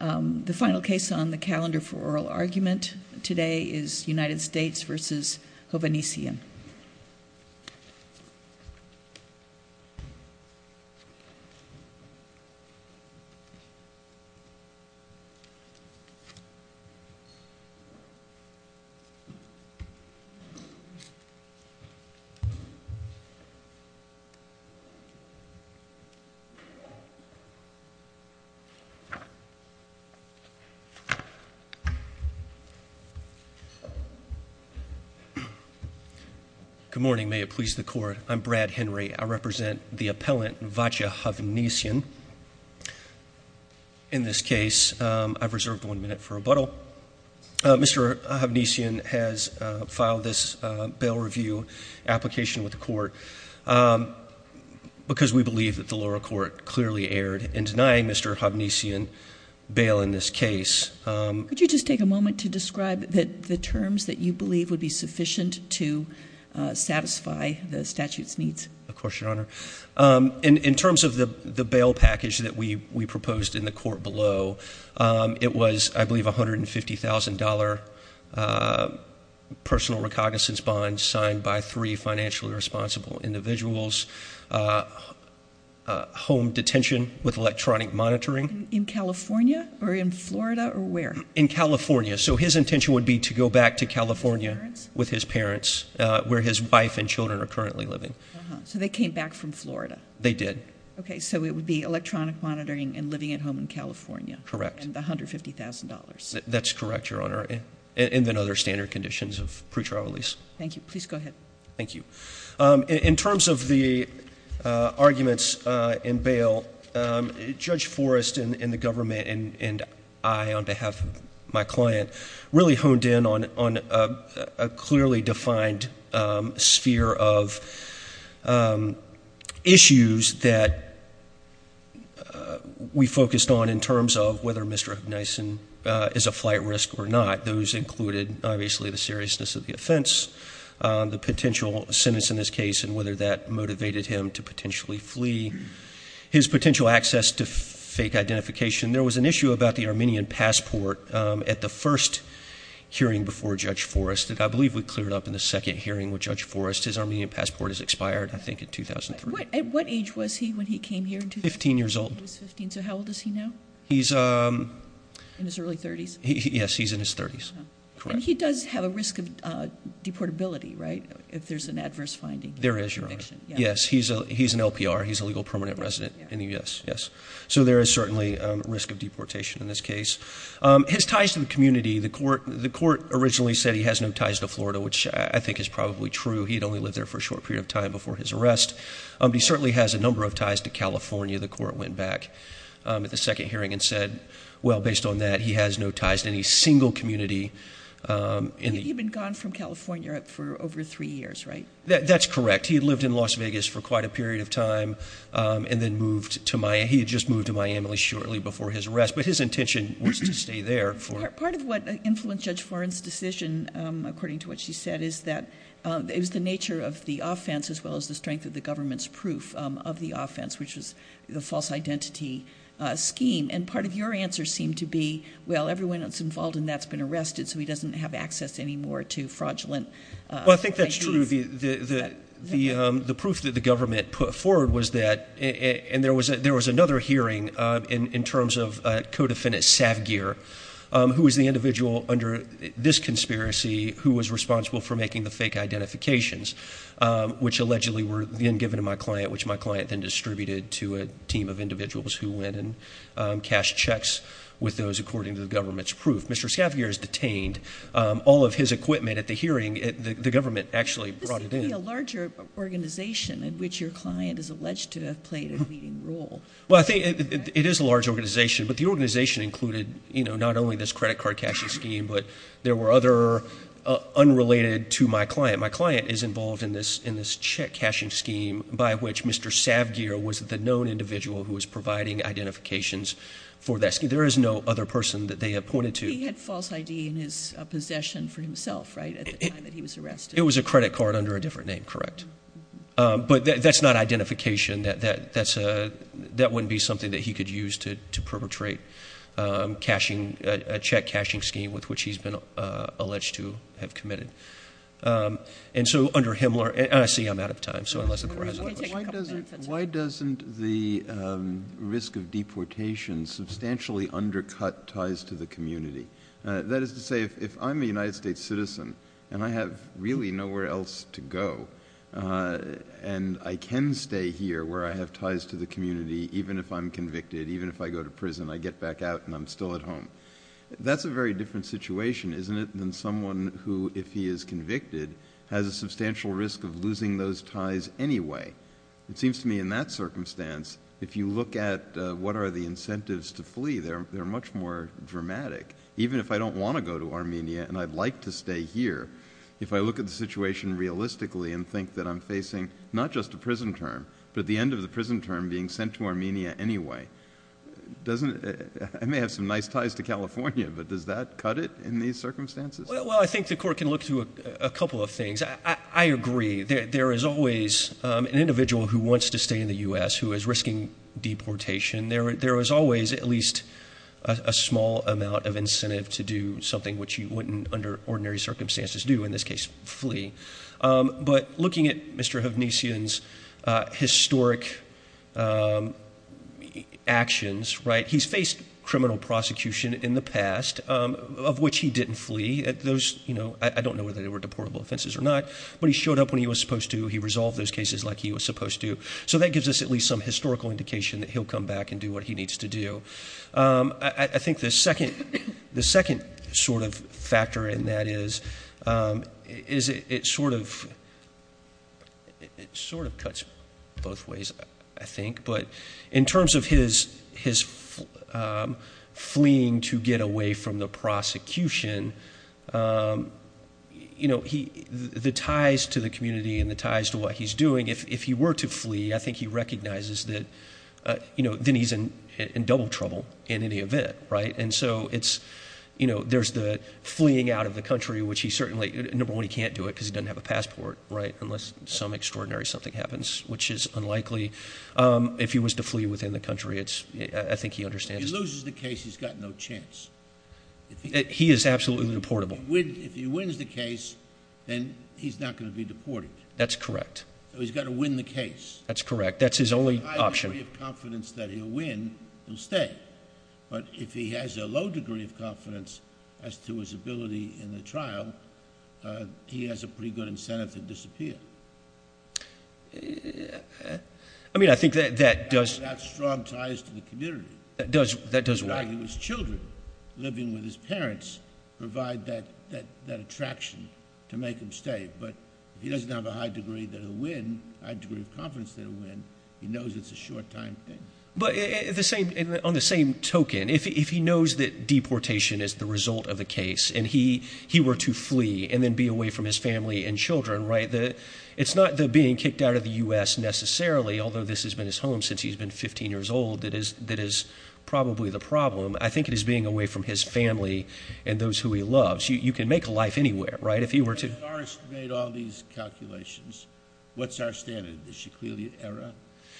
The final case on the calendar for oral argument today is United States v. Hovhannisian. Good morning. May it please the court. I'm Brad Henry. I represent the appellant v. Hovhannisian. In this case, I've reserved one minute for rebuttal. Mr. Hovhannisian has filed this bail review application with the court because we believe that the lower court clearly erred in denying Mr. Hovhannisian bail in this case. Could you just take a moment to describe the terms that you believe would be sufficient to satisfy the statute's needs? Of course, Your Honor. In terms of the bail package that we proposed in the court below, it was, I believe, $150,000 personal recognizance bond signed by three financially responsible individuals, home detention with electronic monitoring. In California or in Florida or where? In California. So his intention would be to go back to California with his parents where his wife and children are currently living. So they came back from Florida? They did. Okay, so it would be electronic monitoring and living at home in California? Correct. And the $150,000? That's correct, Your Honor, and then other standard conditions of pre-trial release. Thank you. Please go ahead. Thank you. In terms of the arguments in bail, Judge Forrest and the government and I, on behalf of my client, really honed in on a clearly defined sphere of issues that we focused on in terms of whether Mr. Hovhannisian is a flight risk or not. Those included, obviously, the seriousness of the offense, the potential sentence in this case and whether that motivated him to potentially flee, his potential access to fake identification. There was an issue about the Armenian passport at the first hearing before Judge Forrest. I believe we cleared up in the second hearing with Judge Forrest. His Armenian passport has expired, I think, in 2003. At what age was he when he came here? 15 years old. So how old is he now? He's in his early 30s. Yes, he's in his 30s. Correct. And he does have a risk of deportability, right, if there's an adverse finding? There is, Your Honor. Yes, he's an LPR. He's a legal permanent resident in the U.S., yes. So there is certainly a risk of deportation in this case. His ties to the community, the court originally said he has no ties to Florida, which I think is probably true. He'd only lived there for a short period of time before his arrest. He certainly has a number of ties to California. The second hearing had said, well, based on that, he has no ties to any single community. He'd been gone from California for over three years, right? That's correct. He had lived in Las Vegas for quite a period of time and then moved to Miami. He had just moved to Miami shortly before his arrest, but his intention was to stay there. Part of what influenced Judge Forrest's decision, according to what she said, is that it was the nature of the offense as well as the strength of the government's proof of the offense, which was the false identity scheme. And part of your answer seemed to be, well, everyone that's involved in that's been arrested, so he doesn't have access anymore to fraudulent... Well, I think that's true. The proof that the government put forward was that, and there was another hearing in terms of co-defendant Savgir, who was the individual under this conspiracy who was responsible for making the fake identifications, which allegedly were then given to my client, which my client then distributed to a team of individuals who went and cashed checks with those according to the government's proof. Mr. Savgir is detained. All of his equipment at the hearing, the government actually brought it in. This would be a larger organization in which your client is alleged to have played a leading role. Well, I think it is a large organization, but the organization included, you know, not only this credit card cashing scheme, but there were other unrelated to my client. My client is involved in this check cashing scheme by which Mr. Savgir was the known individual who was providing identifications for that scheme. There is no other person that they appointed to... He had false ID in his possession for himself, right, at the time that he was arrested. It was a credit card under a different name, correct. But that's not identification. That wouldn't be something that he could use to perpetrate a check cashing scheme with which he's been alleged to have committed. And so under him... I see I'm out of time, so unless the court has a question. Why doesn't the risk of deportation substantially undercut ties to the community? That is to say, if I'm a United States citizen and I have really nowhere else to go, and I can stay here where I have ties to the community, even if I'm convicted, even if I go to a very different situation, isn't it then someone who, if he is convicted, has a substantial risk of losing those ties anyway? It seems to me in that circumstance, if you look at what are the incentives to flee, they're much more dramatic. Even if I don't want to go to Armenia and I'd like to stay here, if I look at the situation realistically and think that I'm facing not just a prison term, but at the end of the prison term being sent to Armenia anyway, doesn't... I may have some nice ties to California, but does that cut it in these circumstances? Well, I think the court can look through a couple of things. I agree. There is always an individual who wants to stay in the U.S. who is risking deportation. There is always at least a small amount of incentive to do something which you wouldn't under ordinary circumstances do, in this case flee. But looking at Mr. Hovnesian's historic actions, he's faced criminal prosecution in the past, of which he didn't flee. I don't know whether they were deportable offenses or not, but he showed up when he was supposed to. He resolved those cases like he was supposed to. So that gives us at least some historical indication that he'll come back and do what he needs to do. I think the second sort of factor in that is, it sort of cuts both ways, I think. But in terms of his fleeing to get away from the prosecution, you know, the ties to the community and the ties to what he's doing, if he were to flee, I think he recognizes that, you know, then he's in double trouble in any event, right? And so it's, you know, there's the fleeing out of the country, which he certainly, number one, he can't do it because he doesn't have a passport, right? Unless some extraordinary something happens, which is unlikely. If he was to flee within the country, it's, I think he understands. He loses the case, he's got no chance. He is absolutely deportable. If he wins the case, then he's not going to be deported. That's correct. So he's got to win the case. That's correct. That's his only option. If he has a high degree of confidence that he'll win, he'll stay. But if he has a low degree of confidence as to his ability in the trial, he has a pretty good incentive to disappear. I mean, I think that does... He's got strong ties to the community. That does. That does. That's why his children, living with his parents, provide that attraction to make him stay. But if he doesn't have a high degree that he'll win, a high degree of confidence that he'll win, he knows it's a short-time thing. But on the same token, if he knows that deportation is the result of the case and he were to flee and then be away from his family and children, right, it's not the being kicked out of the U.S. necessarily, although this has been his home since he's been 15 years old, that is probably the problem. I think it is being away from his family and those who he loves. You can make a life anywhere, right, if he were to... If Orest made all these calculations, what's our standard? Is she clearly at error?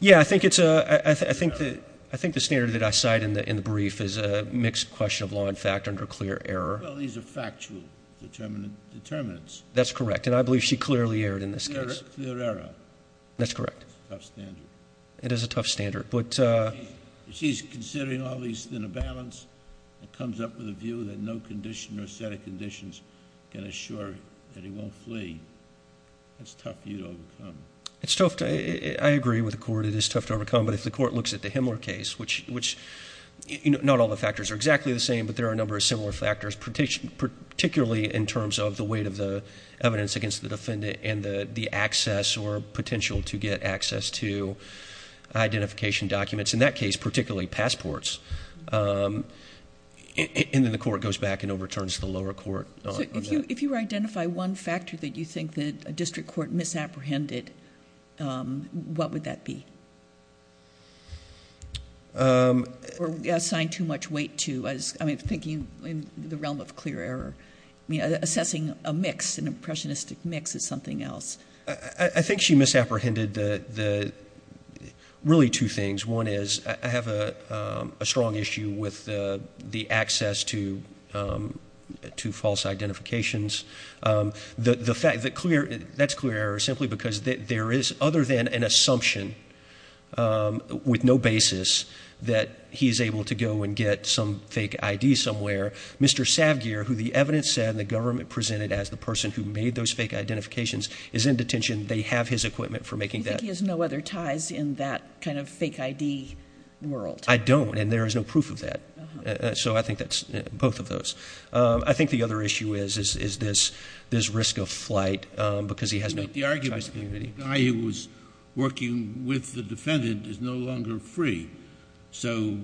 Yeah, I think it's a... I think the standard that I cite in the brief is a mixed question of law and fact under clear error. Well, these are factual determinants. That's correct. And I believe she clearly erred in this case. Clear error. That's correct. It's a tough standard. It is a tough standard. She's considering all these in a balance. It comes up with a view that no condition or set of conditions can assure that he won't flee. It's tough for you to overcome. It's tough. I agree with the court. It is tough to overcome. But if the court looks at the Himmler case, which not all the factors are exactly the same, but there are a number of similar factors, particularly in terms of the weight of the evidence against the defendant and the access or potential to get access to identification documents, in that case, particularly passports, and then the court goes back and overturns the lower court on that. If you identify one factor that you think that a district court misapprehended, what would that be? Or assigned too much weight to as... I mean, thinking in the realm of clear error. I mean, assessing a mix, an impressionistic mix is something else. I think she misapprehended really two things. One is I have a strong issue with the access to false identifications. That's clear error simply because there is other than an assumption with no basis that he's able to go and get some fake ID somewhere. Mr. Savgir, who the evidence said and the government presented as the person who made those fake identifications, is in detention. They have his equipment for making that. You think he has no other ties in that kind of fake ID world? I don't, and there is no proof of that. So I think that's both of those. I think the other issue is this risk of flight because he has no ties to the community. But the argument is the guy who was working with the defendant is no longer free. So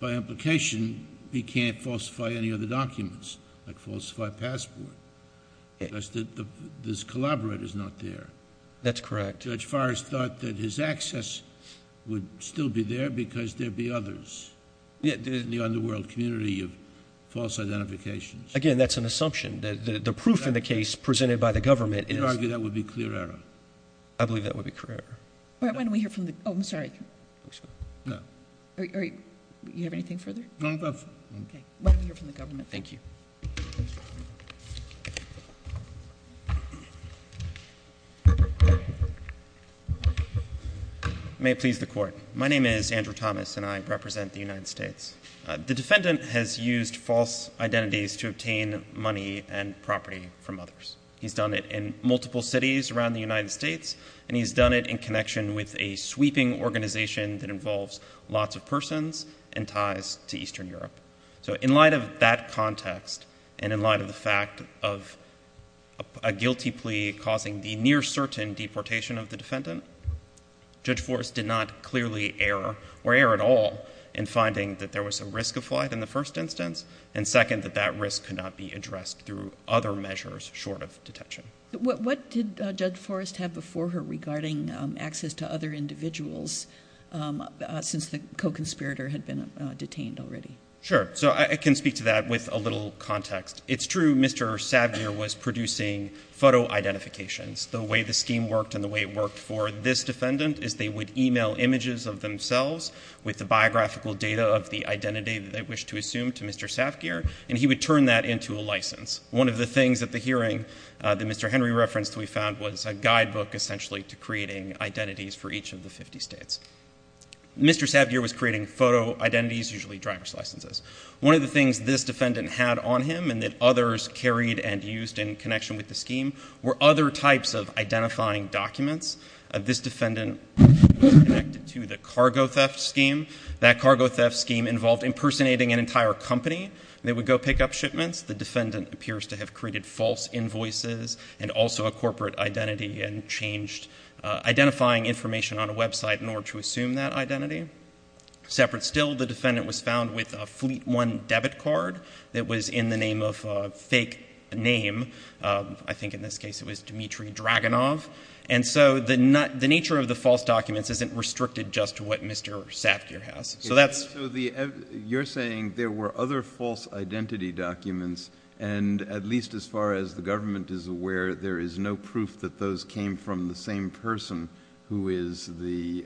by implication, he can't falsify any other documents, like falsify a passport. Because this collaborator is not there. That's correct. Judge Forrest thought that his access would still be there because there'd be others. Yet, there isn't the underworld community of false identifications. Again, that's an assumption. The proof in the case presented by the government is... You argue that would be clear error? I believe that would be clear error. All right, why don't we hear from the... Oh, I'm sorry. No. Are you... Do you have anything further? No, that's... Okay. Why don't we hear from the government? Thank you. I may please the court. My name is Andrew Thomas, and I represent the United States. The defendant has used false identities to obtain money and property from others. He's done it in multiple cities around the United States, and he's done it in connection with a sweeping organization that involves lots of persons and ties to Eastern Europe. So, in light of that context, and in light of the fact of a guilty plea causing the near-certain deportation of the defendant, Judge Forrest did not clearly err, or err at all, in finding that there was a risk of flight in the first instance, and second, that that risk could not be addressed through other measures short of detention. What did Judge Forrest have before her regarding access to other individuals since the co-conspirator had been detained already? Sure. So, I can speak to that with a little context. It's true Mr. Savgir was producing photo identifications. The way the scheme worked and the way it worked for this defendant is they would email images of themselves with the biographical data of the identity that they wished to assume to Mr. Savgir, and he would turn that into a license. One of the things at the hearing that Mr. Henry referenced we found was a guidebook essentially to creating identities for each of the 50 states. Mr. Savgir was creating photo identities, usually driver's licenses. One of the things this defendant had on him and that others carried and used in connection with the scheme were other types of identifying documents. This defendant was connected to the cargo theft scheme. That cargo theft scheme involved impersonating an entire company. They would go pick up shipments. The defendant appears to have created false invoices and also a corporate identity and changed identifying information on a website in order to assume that identity. Separate still, the defendant was found with a Fleet One debit card that was in the name of a fake name. I think in this case it was Dmitry Dragunov. And so the nature of the false documents isn't restricted just to what Mr. Savgir has. So that's... So you're saying there were other false identity documents and at least as far as the government is aware there is no proof that those came from the same person who is the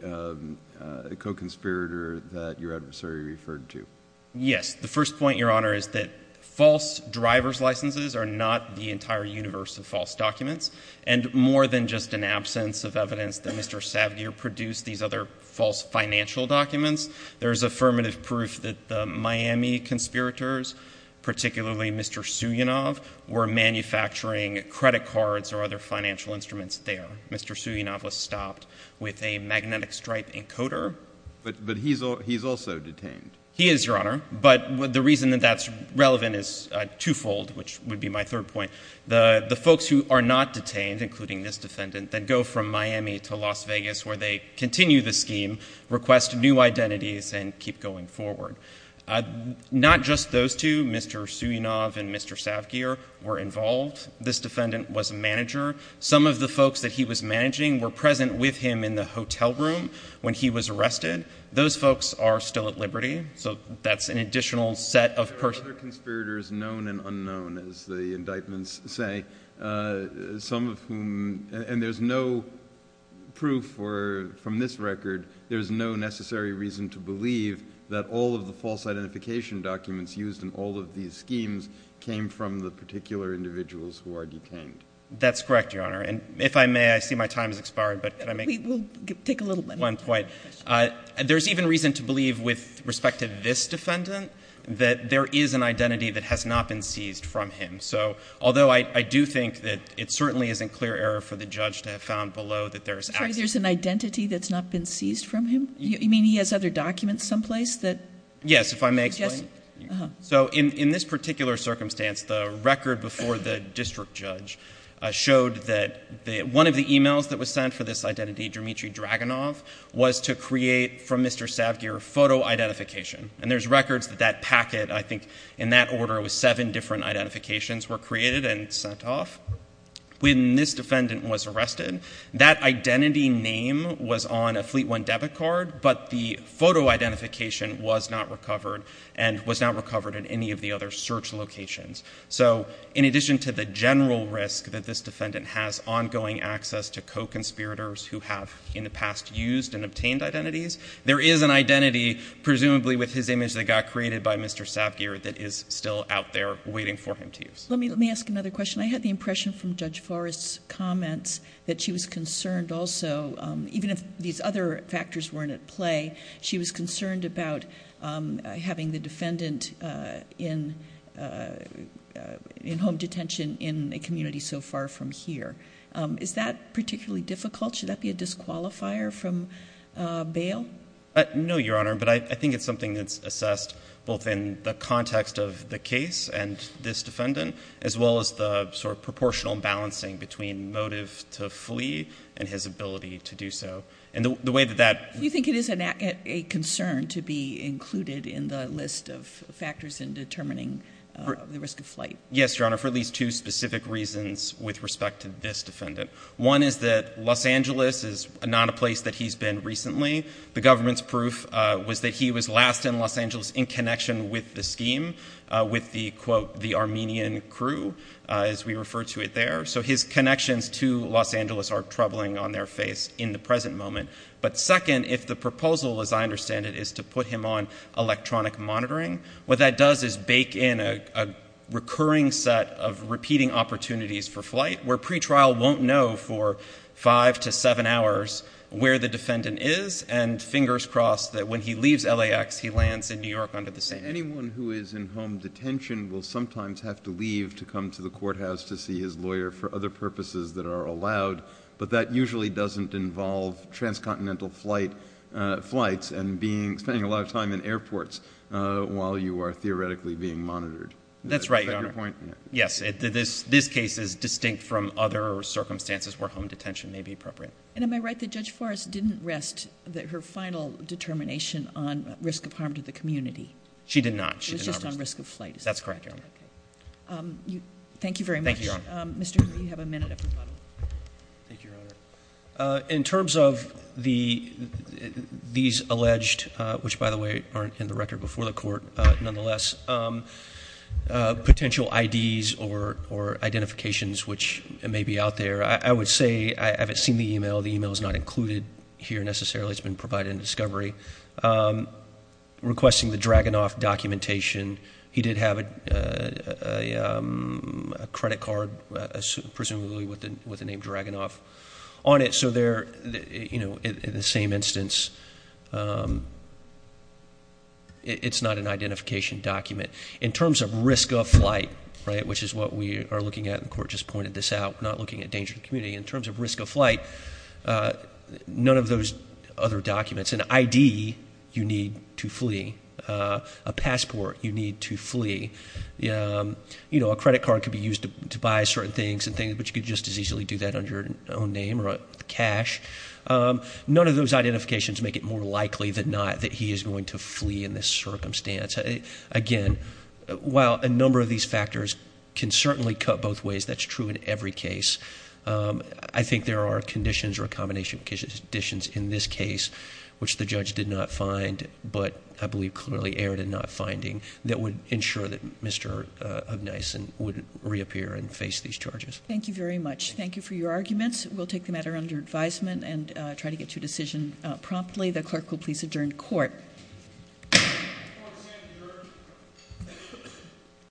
co-conspirator that your adversary referred to? Yes. The first point, Your Honor, is that false driver's licenses are not the entire universe of false documents. And more than just an absence of evidence that Mr. Savgir produced these other false financial documents, there is affirmative proof that the Miami conspirators, particularly Mr. Suyanov, were manufacturing credit cards or other financial instruments there. Mr. Suyanov was stopped with a magnetic stripe encoder. But he's also detained. He is, Your Honor. But the reason that that's relevant is twofold, which would be my third point. The folks who are not detained, including this defendant, then go from Miami to Las Vegas where they continue the scheme, request new identities and keep going forward. Not just those two, Mr. Suyanov and Mr. Savgir were involved. This defendant was a manager. Some of the folks that he was managing were present with him in the hotel room when he was arrested. Those folks are still at liberty. So that's an additional set of persons. There are other conspirators, known and unknown, as the indictments say. Some of whom, and there's no proof from this record, there's no necessary reason to believe that all of the false identification documents used in all of these schemes came from the particular individuals who are detained. That's correct, Your Honor. And if I may, I see my time has expired. But can I make one point? We'll take a little bit more. There's even reason to believe with respect to this defendant that there is an identity that has not been seized from him. So although I do think that it certainly isn't clear error for the judge to have found below that there is access. There's an identity that's not been seized from him? You mean he has other documents someplace that? Yes, if I may explain. So in this particular circumstance, the record before the district judge showed that one of the emails that was sent for this identity, Dmitry Dragunov, was to create from Mr. Savgir photo identification. And there's records that that packet, I think in that order, it was seven different identifications were created and sent off. When this defendant was arrested, that identity name was on a Fleet One debit card, but the photo identification was not recovered and was not recovered in any of the other search locations. So in addition to the general risk that this defendant has ongoing access to co-conspirators who have in the past used and obtained identities, there is an identity presumably with his image that got created by Mr. Savgir that is still out there waiting for him to use. Let me ask another question. I had the impression from Judge Forrest's comments that she was concerned also, even if these other factors weren't at play, she was concerned about having the defendant in home detention in a community so far from here. Is that particularly difficult? Should that be a disqualifier from bail? No, Your Honor, but I think it's something that's assessed both in the context of the case and this defendant, as well as the sort of proportional balancing between motive to flee and his ability to do so. And the way that that- Do you think it is a concern to be included in the list of factors in determining the risk of flight? Yes, Your Honor, for at least two specific reasons with respect to this defendant. One is that Los Angeles is not a place that he's been recently. The government's proof was that he was last in Los Angeles in connection with the scheme, with the quote, the Armenian crew, as we refer to it there. So his connections to Los Angeles are troubling on their face in the present moment. But second, if the proposal, as I understand it, is to put him on electronic monitoring, what that does is bake in a recurring set of repeating opportunities for flight where pretrial won't know for five to seven hours where the defendant is, and fingers crossed that when he leaves LAX, he lands in New York under the same- Anyone who is in home detention will sometimes have to leave to come to the courthouse to see his lawyer for other purposes that are allowed, but that usually doesn't involve transcontinental flights and spending a lot of time in airports while you are theoretically being monitored. That's right, Your Honor. Yes, this case is distinct from other circumstances where home detention may be appropriate. And am I right that Judge Forrest didn't rest her final determination on risk of harm to the community? She did not. It was just on risk of flight. That's correct, Your Honor. Thank you very much. Thank you, Your Honor. Mr. Hoover, you have a minute at the bottom. Thank you, Your Honor. In terms of these alleged- which, by the way, aren't in the record before the court, nonetheless- potential IDs or identifications which may be out there, I would say I haven't seen the email. The email is not included here necessarily. It's been provided in discovery. Requesting the Dragunov documentation. He did have a credit card, presumably with the name Dragunov. On it, in the same instance, it's not an identification document. In terms of risk of flight, which is what we are looking at, and the court just pointed this out, not looking at danger to the community. In terms of risk of flight, none of those other documents. An ID, you need to flee. A passport, you need to flee. A credit card could be used to buy certain things, but you could just as easily do that under your own name cash. None of those identifications make it more likely than not that he is going to flee in this circumstance. Again, while a number of these factors can certainly cut both ways, that's true in every case, I think there are conditions or a combination of conditions in this case, which the judge did not find, but I believe clearly erred in not finding, that would ensure that Mr. Ognison wouldn't reappear and face these charges. Thank you very much. Thank you for your arguments. We'll take the matter under advisement and try to get your decision promptly. The clerk will please adjourn court.